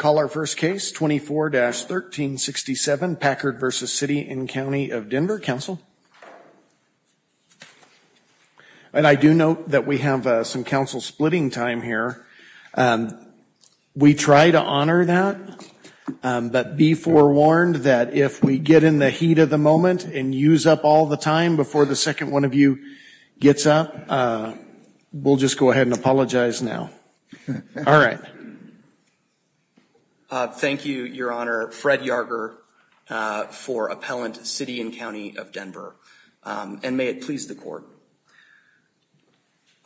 24-1367, Packard v. City and County of Denver And I do note that we have some Council splitting time here. We try to honor that, but be forewarned that if we get in the heat of the moment and use up all the time before the second one of you gets up, we'll just go ahead and apologize now. All right. Thank you, Your Honor. Fred Yarger for Appellant City and County of Denver. And may it please the Court.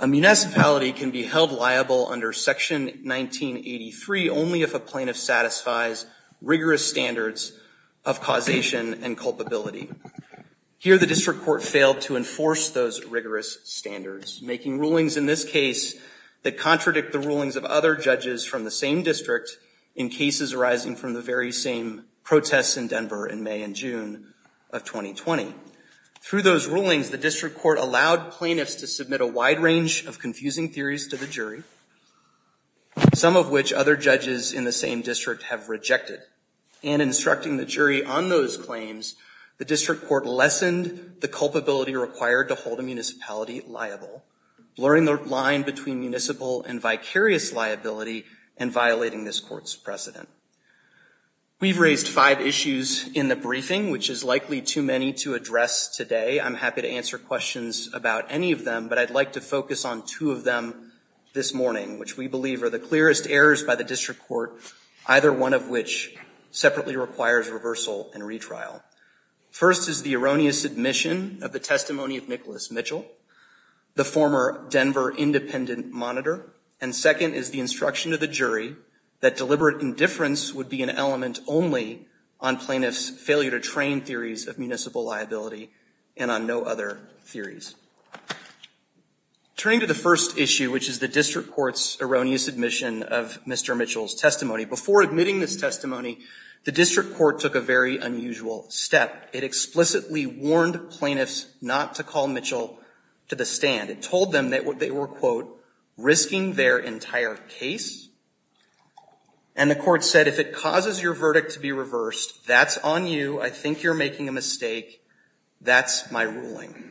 A municipality can be held liable under Section 1983 only if a plaintiff satisfies rigorous standards of causation and culpability. Here, the District Court failed to enforce those rigorous standards, making rulings in this case that contradict both the plaintiff and the plaintiff. In fact, the District Court rejected the rulings of other judges from the same district in cases arising from the very same protests in Denver in May and June of 2020. Through those rulings, the District Court allowed plaintiffs to submit a wide range of confusing theories to the jury, some of which other judges in the same district have rejected. And instructing the jury on those claims, the District Court lessened the culpability required to hold a municipality liable, blurring the line between municipal and vicarious. Liability and violating this court's precedent. We've raised five issues in the briefing, which is likely too many to address today. I'm happy to answer questions about any of them, but I'd like to focus on two of them this morning, which we believe are the clearest errors by the District Court, either one of which separately requires reversal and retrial. First is the erroneous admission of the testimony of Nicholas Mitchell, the former Denver independent monitor. Second is the instruction to the jury that deliberate indifference would be an element only on plaintiffs' failure to train theories of municipal liability and on no other theories. Turning to the first issue, which is the District Court's erroneous admission of Mr. Mitchell's testimony. Before admitting this testimony, the District Court took a very unusual step. It explicitly warned plaintiffs not to call Mitchell to the stand. It told them that they were, quote, risking their entire case. And the court said, if it causes your verdict to be reversed, that's on you. I think you're making a mistake. That's my ruling.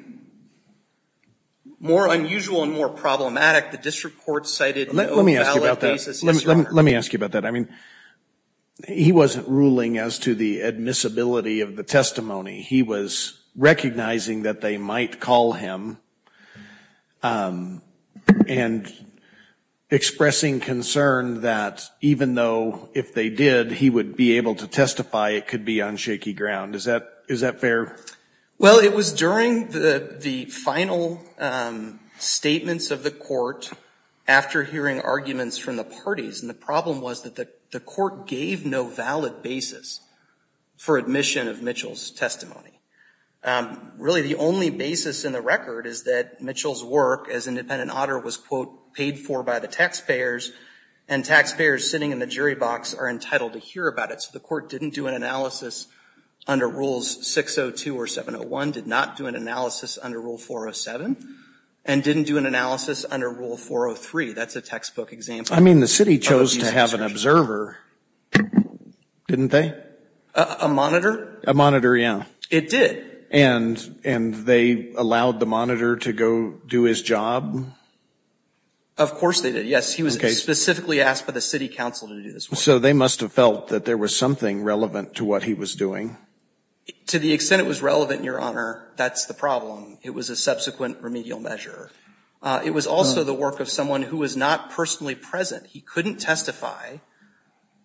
More unusual and more problematic, the District Court cited no valid basis. Let me ask you about that. I mean, he wasn't ruling as to the admissibility of the testimony. He was recognizing that they might call him and expressing concern that even though, if they did, he would be able to testify, it could be on shaky ground. Is that fair? Well, it was during the final statements of the court, after hearing arguments from the parties, and the problem was that the court gave no valid basis for admission of Mitchell's testimony. Really, the only basis in the record is that Mitchell's work as independent auditor was, quote, paid for by the taxpayers, and taxpayers sitting in the jury box are entitled to hear about it. So the court didn't do an analysis under Rules 602 or 701, did not do an analysis under Rule 407, and didn't do an analysis under Rule 403. That's a textbook example. I mean, the city chose to have an observer, didn't they? A monitor? A monitor, yeah. It did. And they allowed the monitor to go do his job? Of course they did, yes. He was specifically asked by the city council to do this work. So they must have felt that there was something relevant to what he was doing. To the extent it was relevant, Your Honor, that's the problem. It was a subsequent remedial measure. It was also the work of someone who was not personally present. He couldn't testify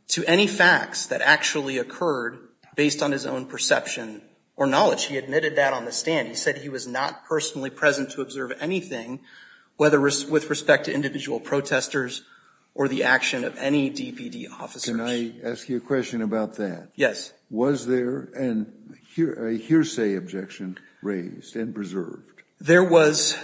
to any facts that actually occurred based on his own perception or knowledge. He admitted that on the stand. He said he was not personally present to observe anything, whether with respect to individual protesters or the action of any DPD officers. Can I ask you a question about that? Yes. Was there a hearsay objection raised and preserved? There was.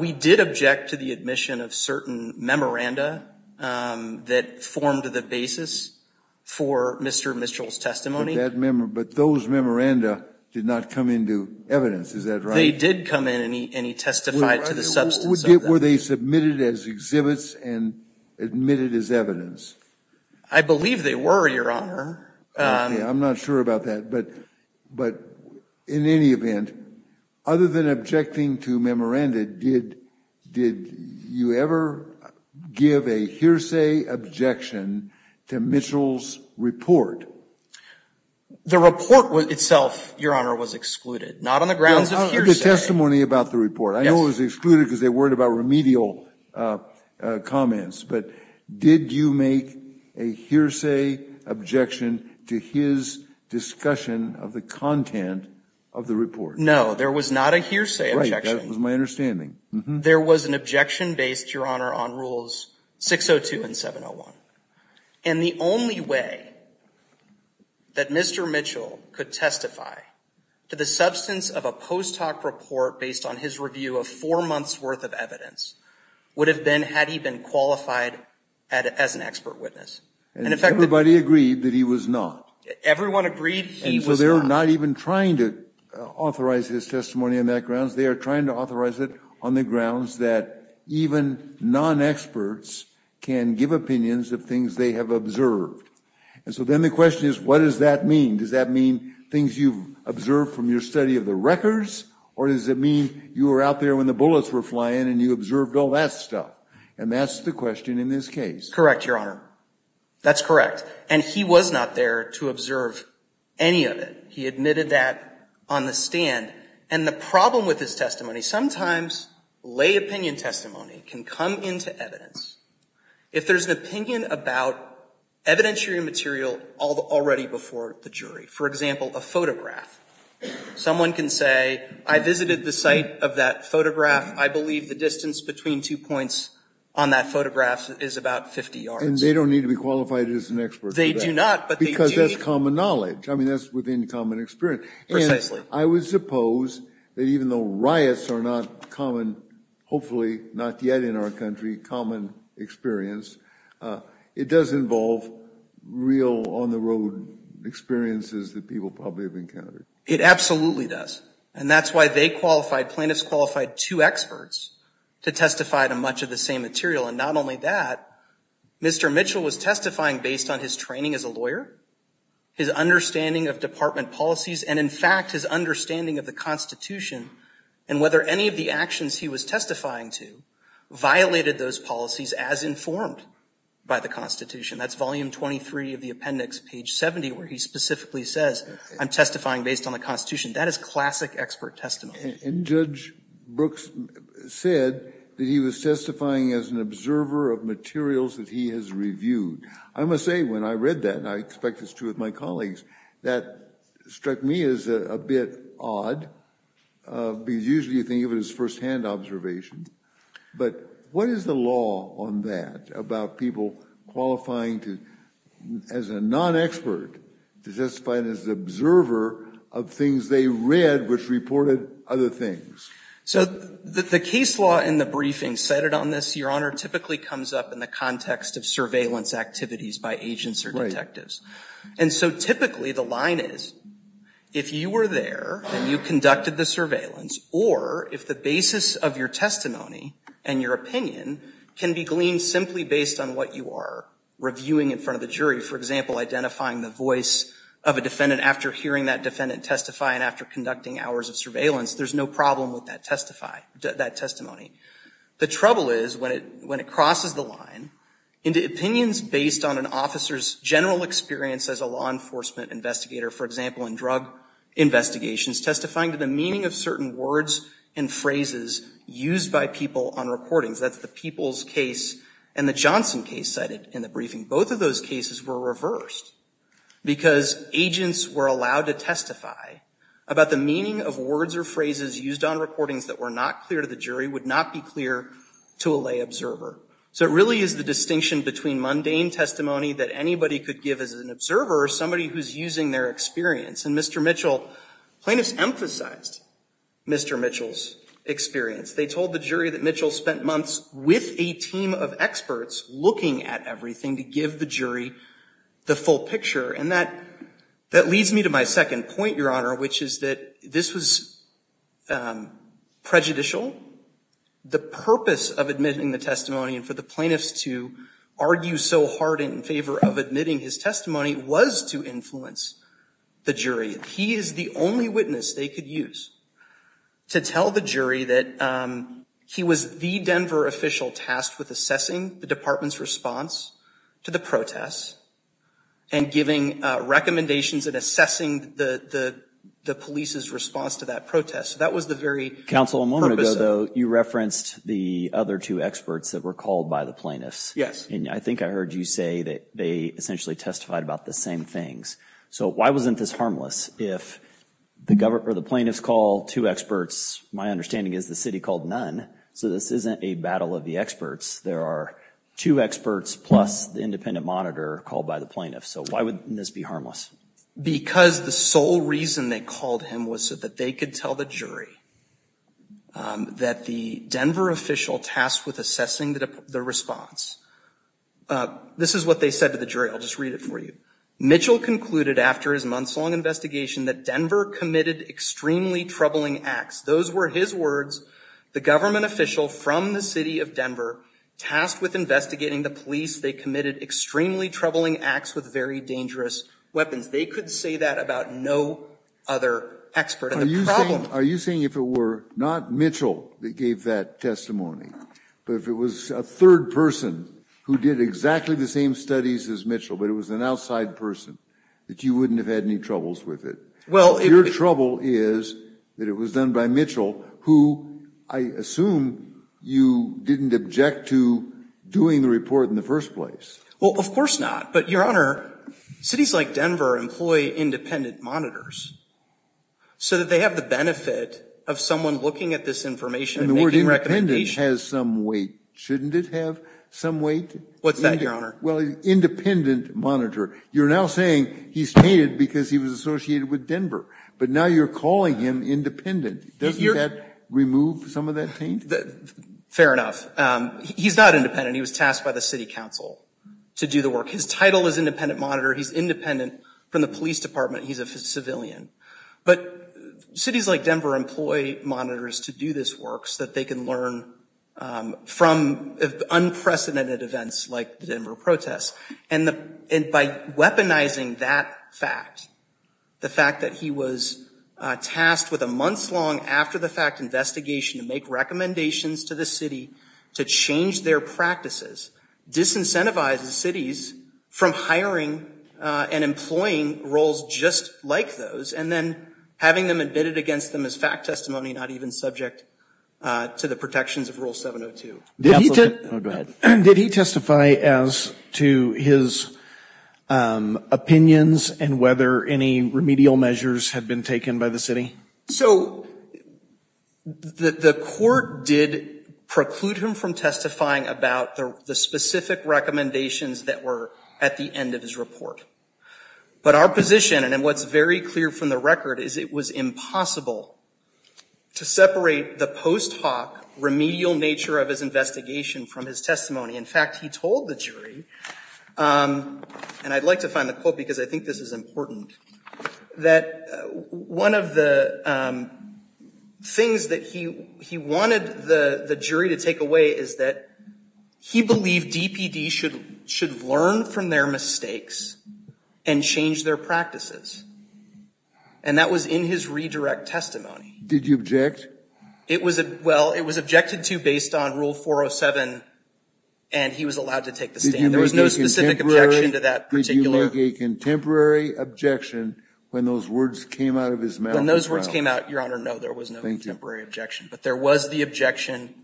We did object to the admission of certain memoranda that formed the basis for Mr. Mitchell's testimony. But those memoranda did not come into evidence, is that right? They did come in and he testified to the substance of them. Were they submitted as exhibits and admitted as evidence? I believe they were, Your Honor. I'm not sure about that. But in any event, other than objecting to memoranda, did you ever give a hearsay objection to Mitchell's report? The report itself, Your Honor, was excluded, not on the grounds of hearsay. The testimony about the report. I know it was excluded because they worried about remedial comments. But did you make a hearsay objection to his discussion of the content of the report? No, there was not a hearsay objection. There was an objection based, Your Honor, on Rules 602 and 701. And the only way that Mr. Mitchell could testify to the substance of a post hoc report based on his review of four months worth of evidence would have been had he been qualified as an expert witness. And everybody agreed that he was not. Everyone agreed he was not. He was not even trying to authorize his testimony on that grounds. They are trying to authorize it on the grounds that even non-experts can give opinions of things they have observed. And so then the question is, what does that mean? Does that mean things you've observed from your study of the records? Or does it mean you were out there when the bullets were flying and you observed all that stuff? And that's the question in this case. Correct, Your Honor. That's correct. And he was not there to observe any of it. He admitted that on the stand. And the problem with his testimony, sometimes lay opinion testimony can come into evidence if there's an opinion about evidentiary material already before the jury. For example, a photograph. Someone can say, I visited the site of that photograph. I believe the distance between two points on that photograph is about 50 yards. And they don't need to be qualified as an expert. They do not. Because that's common knowledge. I mean, that's within common experience. And I would suppose that even though riots are not common, hopefully not yet in our country, common experience, it does involve real on-the-road experiences that people probably have encountered. It absolutely does. And that's why they qualified, plaintiffs qualified two experts to testify to much of the same material. And not only that, Mr. Mitchell was testifying based on his training as a lawyer, his understanding of department policies, and in fact, his understanding of the Constitution and whether any of the actions he was testifying to violated those policies as informed by the Constitution. That's volume 23 of the appendix, page 70, where he specifically says, I'm testifying based on the Constitution. That is classic expert testimony. And Judge Brooks said that he was testifying as an observer of materials that he has reviewed. I must say, when I read that, and I expect it's true with my colleagues, that struck me as a bit odd because usually you think of it as firsthand observation. But what is the law on that about people qualifying as a non-expert to testify as an observer of things they read which reported other things? So the case law in the briefing cited on this, Your Honor, typically comes up in the context of surveillance activities by agents or detectives. And so typically the line is, if you were there and you conducted the surveillance, or if the basis of your testimony and your opinion can be gleaned simply based on what you are reviewing in front of the jury, for example, identifying the voice of a defendant after hearing that defendant testify and after conducting hours of surveillance, there's no problem with that testimony. The trouble is when it crosses the line into opinions based on an officer's general experience as a law enforcement investigator, for example, in drug investigations, testifying to the meaning of certain words and phrases used by people on recordings. That's the Peoples case and the Johnson case cited in the briefing. Both of those cases were reversed because agents were allowed to testify about the meaning of words or phrases used on recordings that were not clear to the jury, would not be clear to a lay observer. So it really is the distinction between mundane testimony that anybody could give as an observer or somebody who's using their experience. And Mr. Mitchell, plaintiffs emphasized Mr. Mitchell's experience. They told the jury that Mitchell spent months with a team of experts looking at everything to give the jury the full picture. And that leads me to my second point, Your Honor, which is that this was prejudicial. The purpose of admitting the testimony and for the plaintiffs to argue so hard in favor of admitting his testimony was to influence the jury. He is the only witness they could use to tell the jury that he was the Denver official tasked with assessing the department's response to the protests and giving recommendations and assessing the police's response to that protest. So that was the very purpose of it. Counsel, a moment ago, though, you referenced the other two experts that were called by the plaintiffs. Yes. And I think I heard you say that they essentially testified about the same things. So why wasn't this harmless? If the plaintiffs call two experts, my understanding is the city called none. So this isn't a battle of the experts. There are two experts plus the independent monitor called by the plaintiffs. So why wouldn't this be harmless? Because the sole reason they called him was so that they could tell the jury that the Denver official tasked with assessing the response. This is what they said to the jury. I'll just read it for you. Mitchell concluded after his months-long investigation that Denver committed extremely troubling acts. Those were his words. The government official from the city of Denver tasked with investigating the police. They committed extremely troubling acts with very dangerous weapons. They could say that about no other expert. And the problem Are you saying if it were not Mitchell that gave that testimony, but if it was a third person who did exactly the same studies as Mitchell, but it was an outside person, that you wouldn't have had any troubles with it? Your trouble is that it was done by Mitchell, who I assume you didn't object to doing the report in the first place. Well, of course not. But, Your Honor, cities like Denver employ independent monitors. So that they have the benefit of someone looking at this information and making recommendations. And the word independent has some weight. Shouldn't it have some weight? What's that, Your Honor? Well, independent monitor. You're now saying he's tainted because he was associated with Denver. But now you're calling him independent. Doesn't that remove some of that taint? Fair enough. He's not independent. He was tasked by the city council to do the work. His title is independent monitor. He's independent from the police department. He's a civilian. But cities like Denver employ monitors to do this work so that they can learn from unprecedented events like the Denver protests. And by weaponizing that fact, the fact that he was tasked with a months-long after-the-fact investigation to make recommendations to the city to change their practices, disincentivizes cities from hiring and employing roles just like those. And then having them admitted against them as fact testimony, not even subject to the protections of Rule 702. Go ahead. Did he testify as to his opinions and whether any remedial measures had been taken by the city? So the court did preclude him from testifying about the specific recommendations that were at the end of his report. But our position, and what's very clear from the record, is it was impossible to separate the post hoc remedial nature of his investigation from his testimony. In fact, he told the jury, and I'd like to find the quote because I think this is important, that one of the things that he wanted the jury to take away is that he believed DPD should learn from their mistakes and change their practices. And that was in his redirect testimony. Did you object? Well, it was objected to based on Rule 407, and he was allowed to take the stand. There was no specific objection to that particular. Did he make a contemporary objection when those words came out of his mouth? When those words came out, Your Honor, no, there was no contemporary objection. But there was the objection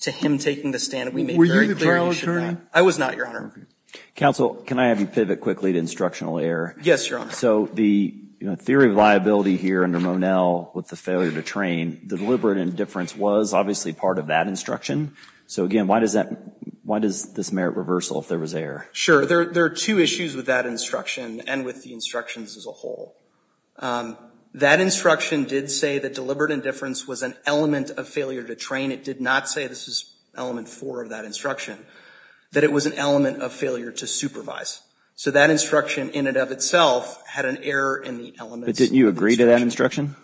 to him taking the stand. Were you the trial attorney? I was not, Your Honor. Counsel, can I have you pivot quickly to instructional error? Yes, Your Honor. So the theory of liability here under Monell with the failure to train, the deliberate indifference was obviously part of that instruction. So again, why does this merit reversal if there was error? Sure. There are two issues with that instruction and with the instructions as a whole. That instruction did say that deliberate indifference was an element of failure to train. It did not say this is element four of that instruction, that it was an element of failure to supervise. So that instruction in and of itself had an error in the elements of the instruction. But didn't you agree to that instruction?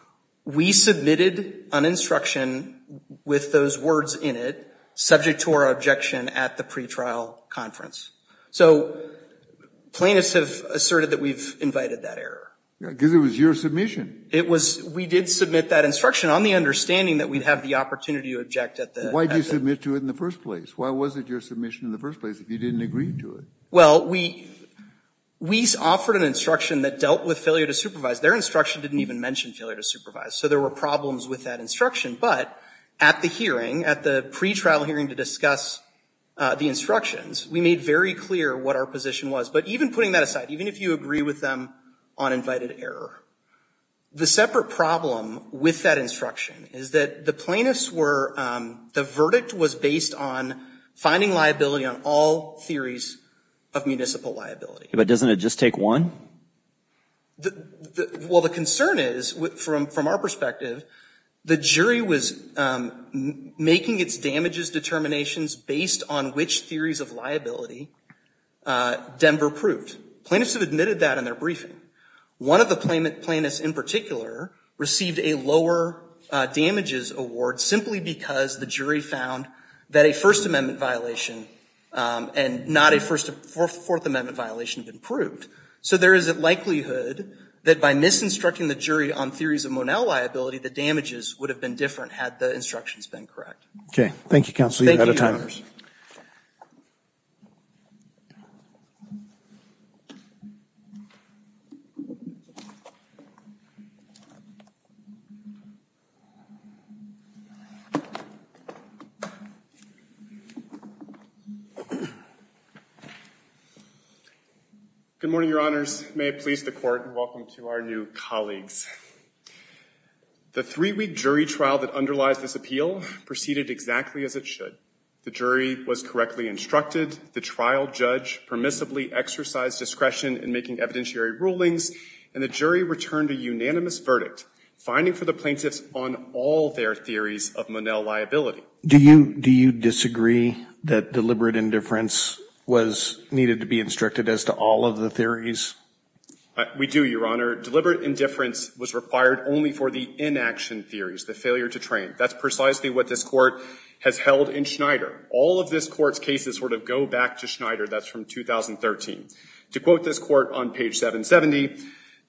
We submitted an instruction with those words in it subject to our objection at the pretrial conference. So plaintiffs have asserted that we've invited that error. Because it was your submission. It was. We did submit that instruction on the understanding that we'd have the opportunity to object at the accident. Why did you submit to it in the first place? Why was it your submission in the first place if you didn't agree to it? Well, we offered an instruction that dealt with failure to supervise. Their instruction didn't even mention failure to supervise. So there were problems with that instruction. But at the hearing, at the pretrial hearing to discuss the instructions, we made very clear what our position was. But even putting that aside, even if you agree with them on invited error, the separate problem with that instruction is that the plaintiffs were, the verdict was based on finding liability on all theories of municipal liability. But doesn't it just take one? Well, the concern is, from our perspective, the jury was making its damages determinations based on which theories of liability Denver proved. Plaintiffs have admitted that in their briefing. One of the plaintiffs in particular received a lower damages award simply because the jury found that a First Amendment violation and not a Fourth Amendment violation had been proved. So there is a likelihood that by misinstructing the jury on theories of Monell liability, the damages would have been different had the instructions been correct. Okay. Thank you, counsel. You're out of time. Thank you, Your Honor. Good morning, Your Honors. May it please the court and welcome to our new colleagues. The three-week jury trial that underlies this appeal proceeded exactly as it should. The jury was correctly instructed. The trial judge permissibly exercised discretion in making evidentiary rulings, and the jury returned a unanimous verdict, finding for the plaintiffs on all their theories of Monell liability. Do you disagree that deliberate indifference was needed to be instructed as to all of the theories? We do, Your Honor. Deliberate indifference was required only for the inaction theories, the failure to train. That's precisely what this Court has held in Schneider. All of this Court's cases sort of go back to Schneider. That's from 2013. To quote this Court on page 770,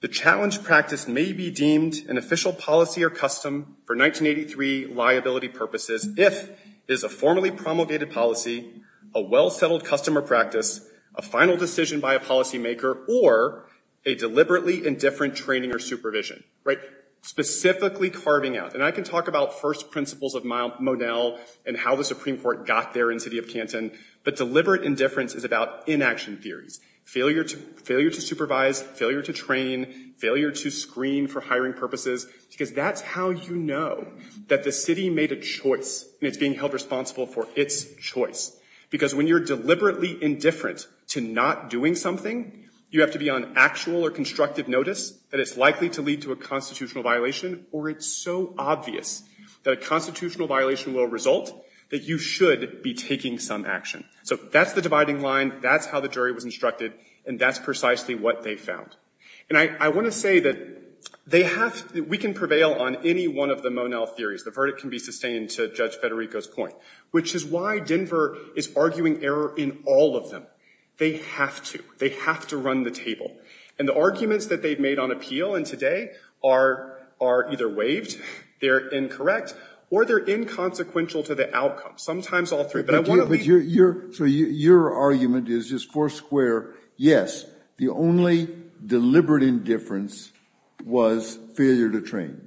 the challenge practice may be deemed an official policy or custom for 1983 liability purposes if it is a formally promulgated policy, a well-settled custom or practice, a final decision by a policymaker, or a deliberately indifferent training or supervision. Right? Specifically carving out. And I can talk about first principles of Monell and how the Supreme Court got there in the city of Canton, but deliberate indifference is about inaction theories, failure to supervise, failure to train, failure to screen for hiring purposes, because that's how you know that the city made a choice, and it's being held responsible for its choice. Because when you're deliberately indifferent to not doing something, you have to be on actual or constructive notice that it's likely to lead to a constitutional violation, or it's so obvious that a constitutional violation will result that you should be taking some action. So that's the dividing line. That's how the jury was instructed. And that's precisely what they found. And I want to say that we can prevail on any one of the Monell theories. The verdict can be sustained to Judge Federico's point, which is why Denver is arguing error in all of them. They have to. They have to run the table. And the arguments that they've made on appeal in today are either waived, they're incorrect, or they're inconsequential to the outcome. Sometimes all three. So your argument is just four square. Yes, the only deliberate indifference was failure to train.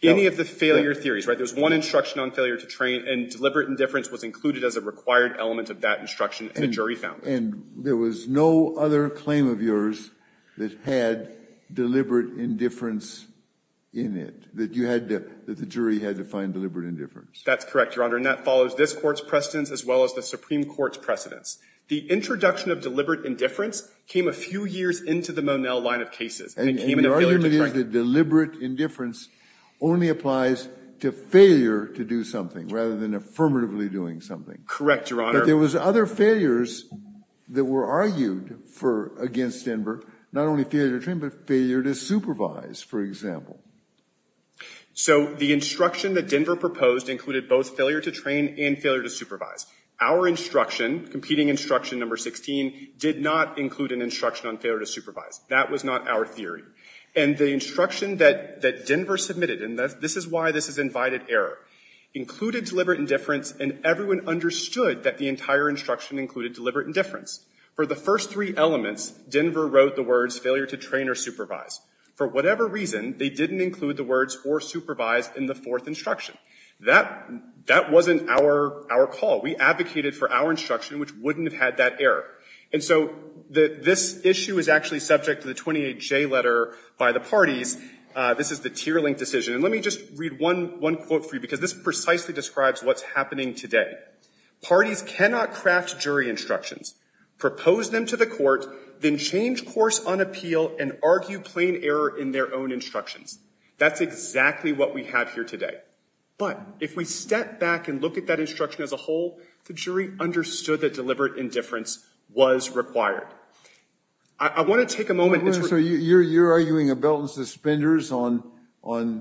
Any of the failure theories, right? There's one instruction on failure to train, and deliberate indifference was included as a required element of that instruction that the jury found. And there was no other claim of yours that had deliberate indifference in it, that the jury had to find deliberate indifference? That's correct, Your Honor. And that follows this Court's precedence as well as the Supreme Court's precedence. The introduction of deliberate indifference came a few years into the Monell line of cases. And it came in a failure to train. And your argument is that deliberate indifference only applies to failure to do something rather than affirmatively doing something. Correct, Your Honor. But there was other failures that were argued against Denver, not only failure to train but failure to supervise, for example. So the instruction that Denver proposed included both failure to train and failure to supervise. Our instruction, competing instruction number 16, did not include an instruction on failure to supervise. That was not our theory. And the instruction that Denver submitted, and this is why this is invited error, included deliberate indifference, and everyone understood that the entire instruction included deliberate indifference. For the first three elements, Denver wrote the words failure to train or supervise. For whatever reason, they didn't include the words or supervise in the fourth instruction. That wasn't our call. We advocated for our instruction, which wouldn't have had that error. And so this issue is actually subject to the 28J letter by the parties. This is the tier link decision. And let me just read one quote for you, because this precisely describes what's happening today. Parties cannot craft jury instructions, propose them to the court, then change course on appeal and argue plain error in their own instructions. That's exactly what we have here today. But if we step back and look at that instruction as a whole, the jury understood that deliberate indifference was required. I want to take a moment. So you're arguing a belt and suspenders on, are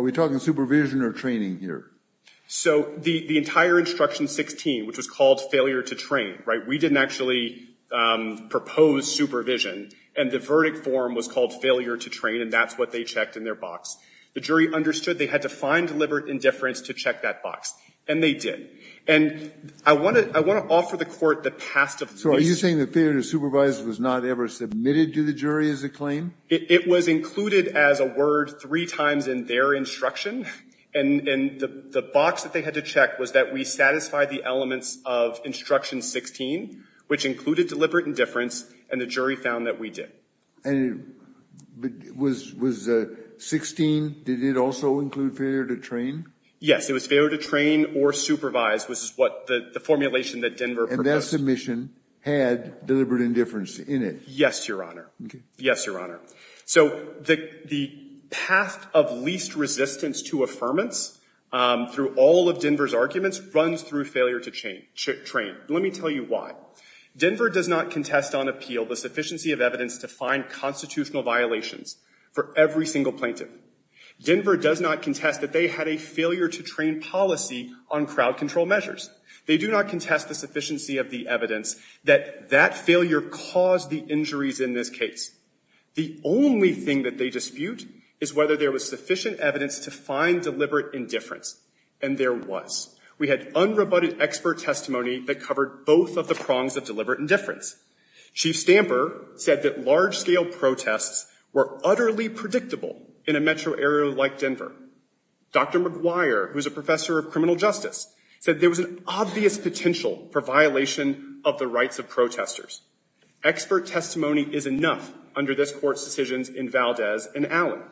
we talking supervision or training here? So the entire instruction 16, which was called failure to train, right, we didn't actually propose supervision. And the verdict form was called failure to train, and that's what they checked in their box. The jury understood they had to find deliberate indifference to check that box. And they did. And I want to offer the court the past of this. So are you saying that failure to supervise was not ever submitted to the jury as a claim? It was included as a word three times in their instruction. And the box that they had to check was that we satisfied the elements of instruction 16, which included deliberate indifference, and the jury found that we did. And was 16, did it also include failure to train? Yes. It was failure to train or supervise, which is what the formulation that Denver proposed. And that submission had deliberate indifference in it. Yes, Your Honor. Yes, Your Honor. So the path of least resistance to affirmance through all of Denver's arguments runs through failure to train. Let me tell you why. Denver does not contest on appeal the sufficiency of evidence to find constitutional violations for every single plaintiff. Denver does not contest that they had a failure to train policy on crowd control measures. They do not contest the sufficiency of the evidence that that failure caused the injuries in this case. The only thing that they dispute is whether there was sufficient evidence to find deliberate indifference. And there was. We had unrebutted expert testimony that covered both of the prongs of deliberate indifference. Chief Stamper said that large-scale protests were utterly predictable in a metro area like Denver. Dr. McGuire, who is a professor of criminal justice, said there was an obvious potential for violation of the rights of protesters. Expert testimony is enough under this Court's decisions in Valdez and Allen.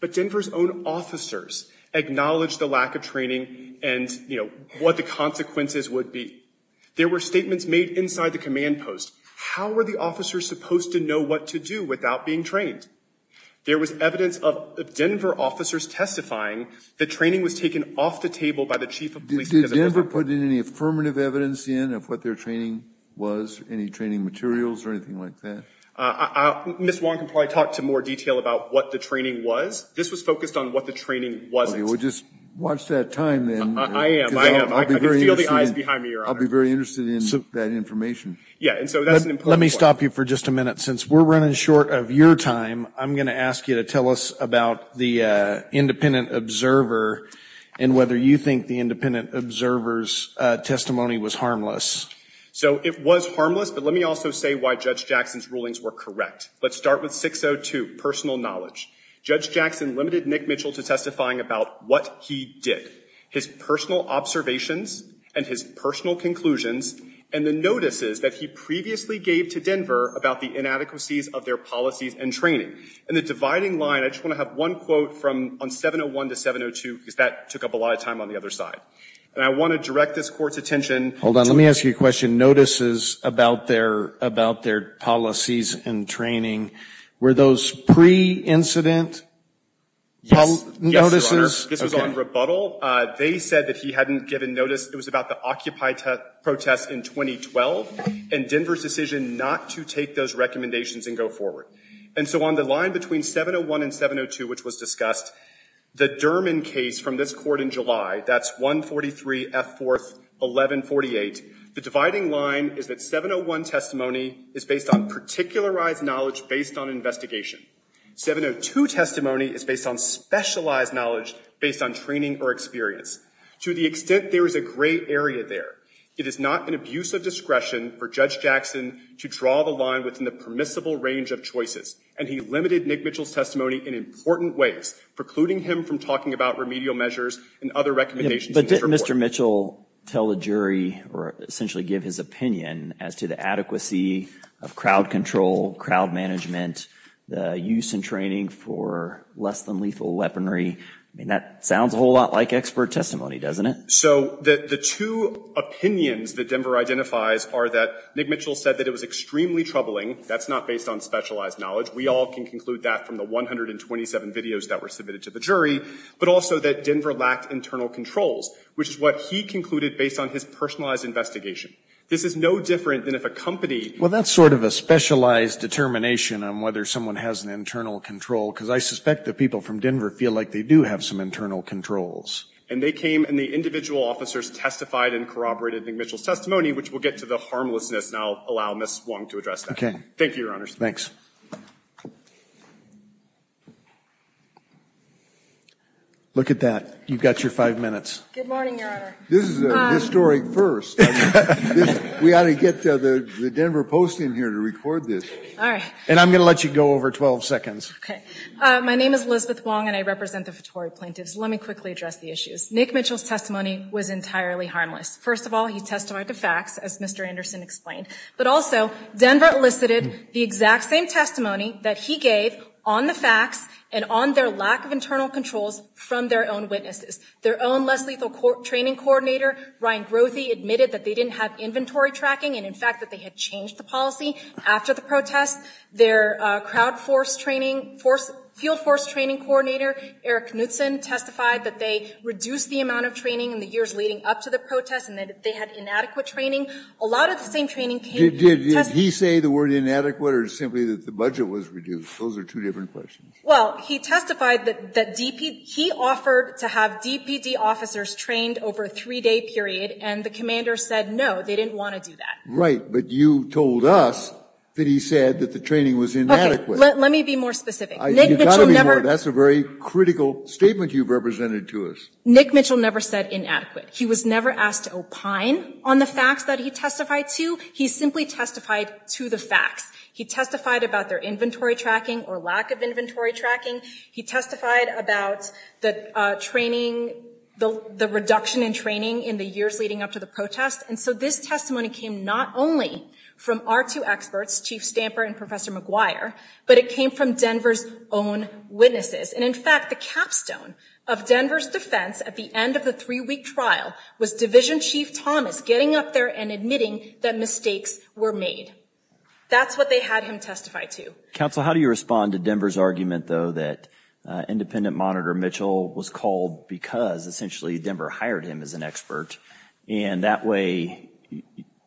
But Denver's own officers acknowledged the lack of training and, you know, what the consequences would be. There were statements made inside the command post. How were the officers supposed to know what to do without being trained? There was evidence of Denver officers testifying that training was taken off the table by the chief of police. Did Denver put in any affirmative evidence in of what their training was? Any training materials or anything like that? Ms. Warren can probably talk to more detail about what the training was. This was focused on what the training wasn't. Okay, well, just watch that time then. I am, I am. I can feel the eyes behind me, Your Honor. I'll be very interested in that information. Yeah, and so that's an important point. Let me stop you for just a minute. Since we're running short of your time, I'm going to ask you to tell us about the independent observer and whether you think the independent observer's testimony was harmless. So it was harmless, but let me also say why Judge Jackson's rulings were correct. Let's start with 602, personal knowledge. Judge Jackson limited Nick Mitchell to testifying about what he did, his personal observations and his personal conclusions and the notices that he previously gave to Denver about the inadequacies of their policies and training. In the dividing line, I just want to have one quote from 701 to 702, because that took up a lot of time on the other side. And I want to direct this Court's attention. Hold on. Let me ask you a question. Notices about their policies and training, were those pre-incident notices? Yes, Your Honor. This was on rebuttal. They said that he hadn't given notice. It was about the Occupy protests in 2012 and Denver's decision not to take those recommendations and go forward. And so on the line between 701 and 702, which was discussed, the Dermon case from this Court in July, that's 143 F. 4th, 1148, the dividing line is that 701 testimony is based on particularized knowledge based on investigation. 702 testimony is based on specialized knowledge based on training or experience. To the extent there is a gray area there, it is not an abuse of discretion for Judge And he limited Nick Mitchell's testimony in important ways, precluding him from talking about remedial measures and other recommendations. But didn't Mr. Mitchell tell the jury or essentially give his opinion as to the adequacy of crowd control, crowd management, the use and training for less than lethal weaponry? I mean, that sounds a whole lot like expert testimony, doesn't it? So the two opinions that Denver identifies are that Nick Mitchell said that it was based on specialized knowledge. We all can conclude that from the 127 videos that were submitted to the jury. But also that Denver lacked internal controls, which is what he concluded based on his personalized investigation. This is no different than if a company Well, that's sort of a specialized determination on whether someone has an internal control, because I suspect the people from Denver feel like they do have some internal controls. And they came and the individual officers testified and corroborated Nick Mitchell's testimony, which will get to the harmlessness. And I'll allow Ms. Wong to address that. Thank you, Your Honors. Look at that. You've got your five minutes. Good morning, Your Honor. This is a historic first. We ought to get the Denver Post in here to record this. All right. And I'm going to let you go over 12 seconds. Okay. My name is Elizabeth Wong, and I represent the Votori plaintiffs. Let me quickly address the issues. Nick Mitchell's testimony was entirely harmless. First of all, he testified to facts, as Mr. Anderson explained. But also, Denver elicited the exact same testimony that he gave on the facts and on their lack of internal controls from their own witnesses. Their own less lethal training coordinator, Ryan Grothy, admitted that they didn't have inventory tracking and, in fact, that they had changed the policy after the protest. Their crowd force training, field force training coordinator, Eric Knutson, testified that they reduced the amount of training in the years leading up to the protest and that they had inadequate training. A lot of the same training came to test the- Did he say the word inadequate or simply that the budget was reduced? Those are two different questions. Well, he testified that he offered to have DPD officers trained over a three-day period, and the commander said no, they didn't want to do that. Right. But you told us that he said that the training was inadequate. Okay. Let me be more specific. Nick Mitchell never- You've got to be more. That's a very critical statement you've represented to us. Nick Mitchell never said inadequate. He was never asked to opine on the facts that he testified to. He simply testified to the facts. He testified about their inventory tracking or lack of inventory tracking. He testified about the training, the reduction in training in the years leading up to the protest. And so this testimony came not only from our two experts, Chief Stamper and Professor McGuire, but it came from Denver's own witnesses. And in fact, the capstone of Denver's defense at the end of the three-week trial was Division Chief Thomas getting up there and admitting that mistakes were made. That's what they had him testify to. Counsel, how do you respond to Denver's argument, though, that Independent Monitor Mitchell was called because essentially Denver hired him as an expert and that way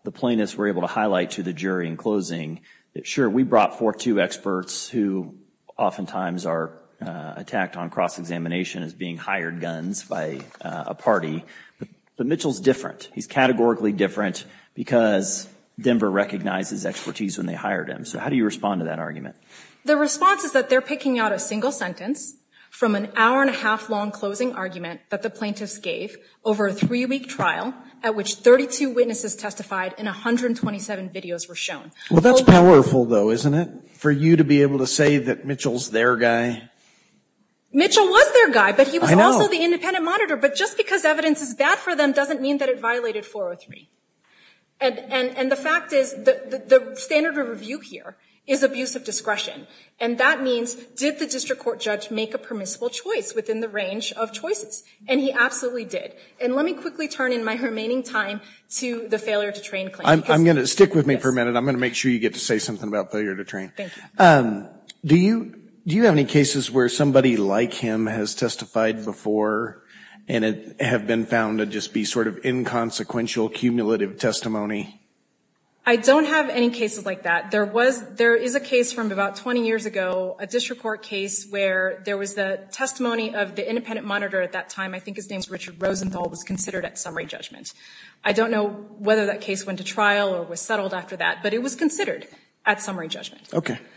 the plaintiffs were able to highlight to the jury in closing that, Sure. We brought forth two experts who oftentimes are attacked on cross-examination as being hired guns by a party. But Mitchell's different. He's categorically different because Denver recognized his expertise when they hired him. So how do you respond to that argument? The response is that they're picking out a single sentence from an hour-and-a-half long closing argument that the plaintiffs gave over a three-week trial at which 32 witnesses testified and 127 videos were shown. Well, that's powerful, though, isn't it, for you to be able to say that Mitchell's their guy? Mitchell was their guy. I know. But he was also the Independent Monitor. But just because evidence is bad for them doesn't mean that it violated 403. And the fact is the standard of review here is abuse of discretion. And that means did the district court judge make a permissible choice within the range of choices? And he absolutely did. And let me quickly turn in my remaining time to the failure-to-train claim. I'm going to stick with me for a minute. I'm going to make sure you get to say something about failure-to-train. Do you have any cases where somebody like him has testified before and have been found to just be sort of inconsequential, cumulative testimony? I don't have any cases like that. There is a case from about 20 years ago, a district court case, where there was the testimony of the Independent Monitor at that time. I think his name is Richard Rosenthal, was considered at summary judgment. I don't know whether that case went to trial or was settled after that. But it was considered at summary judgment.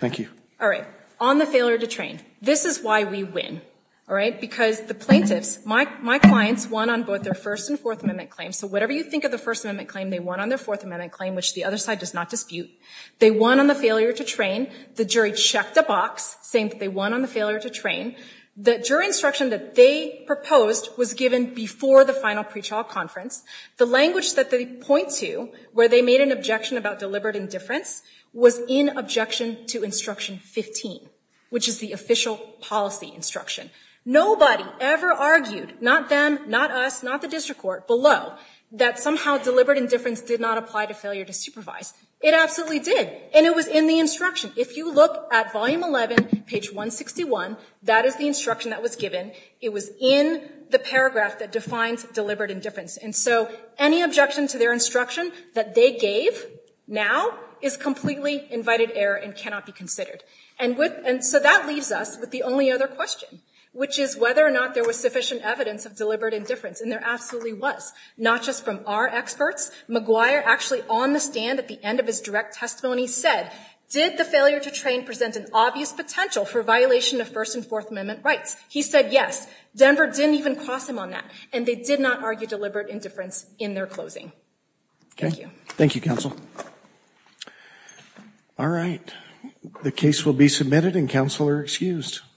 Thank you. All right. On the failure-to-train. This is why we win. All right? Because the plaintiffs, my clients, won on both their First and Fourth Amendment claims. So whatever you think of the First Amendment claim, they won on their Fourth Amendment claim, which the other side does not dispute. They won on the failure-to-train. The jury checked a box saying that they won on the failure-to-train. The jury instruction that they proposed was given before the final pretrial conference. The language that they point to where they made an objection about deliberate indifference was in objection to Instruction 15, which is the official policy instruction. Nobody ever argued, not them, not us, not the district court, below, that somehow deliberate indifference did not apply to failure to supervise. It absolutely did. And it was in the instruction. If you look at Volume 11, page 161, that is the instruction that was given. It was in the paragraph that defines deliberate indifference. And so any objection to their instruction that they gave now is completely invited error and cannot be considered. And so that leaves us with the only other question, which is whether or not there was sufficient evidence of deliberate indifference. And there absolutely was, not just from our experts. McGuire, actually on the stand at the end of his direct testimony, said, did the failure-to-train present an obvious potential for violation of First and Fourth Amendment rights? He said, yes. Denver didn't even cross him on that. And they did not argue deliberate indifference in their closing. Thank you. Thank you, counsel. All right. The case will be submitted, and counsel are excused.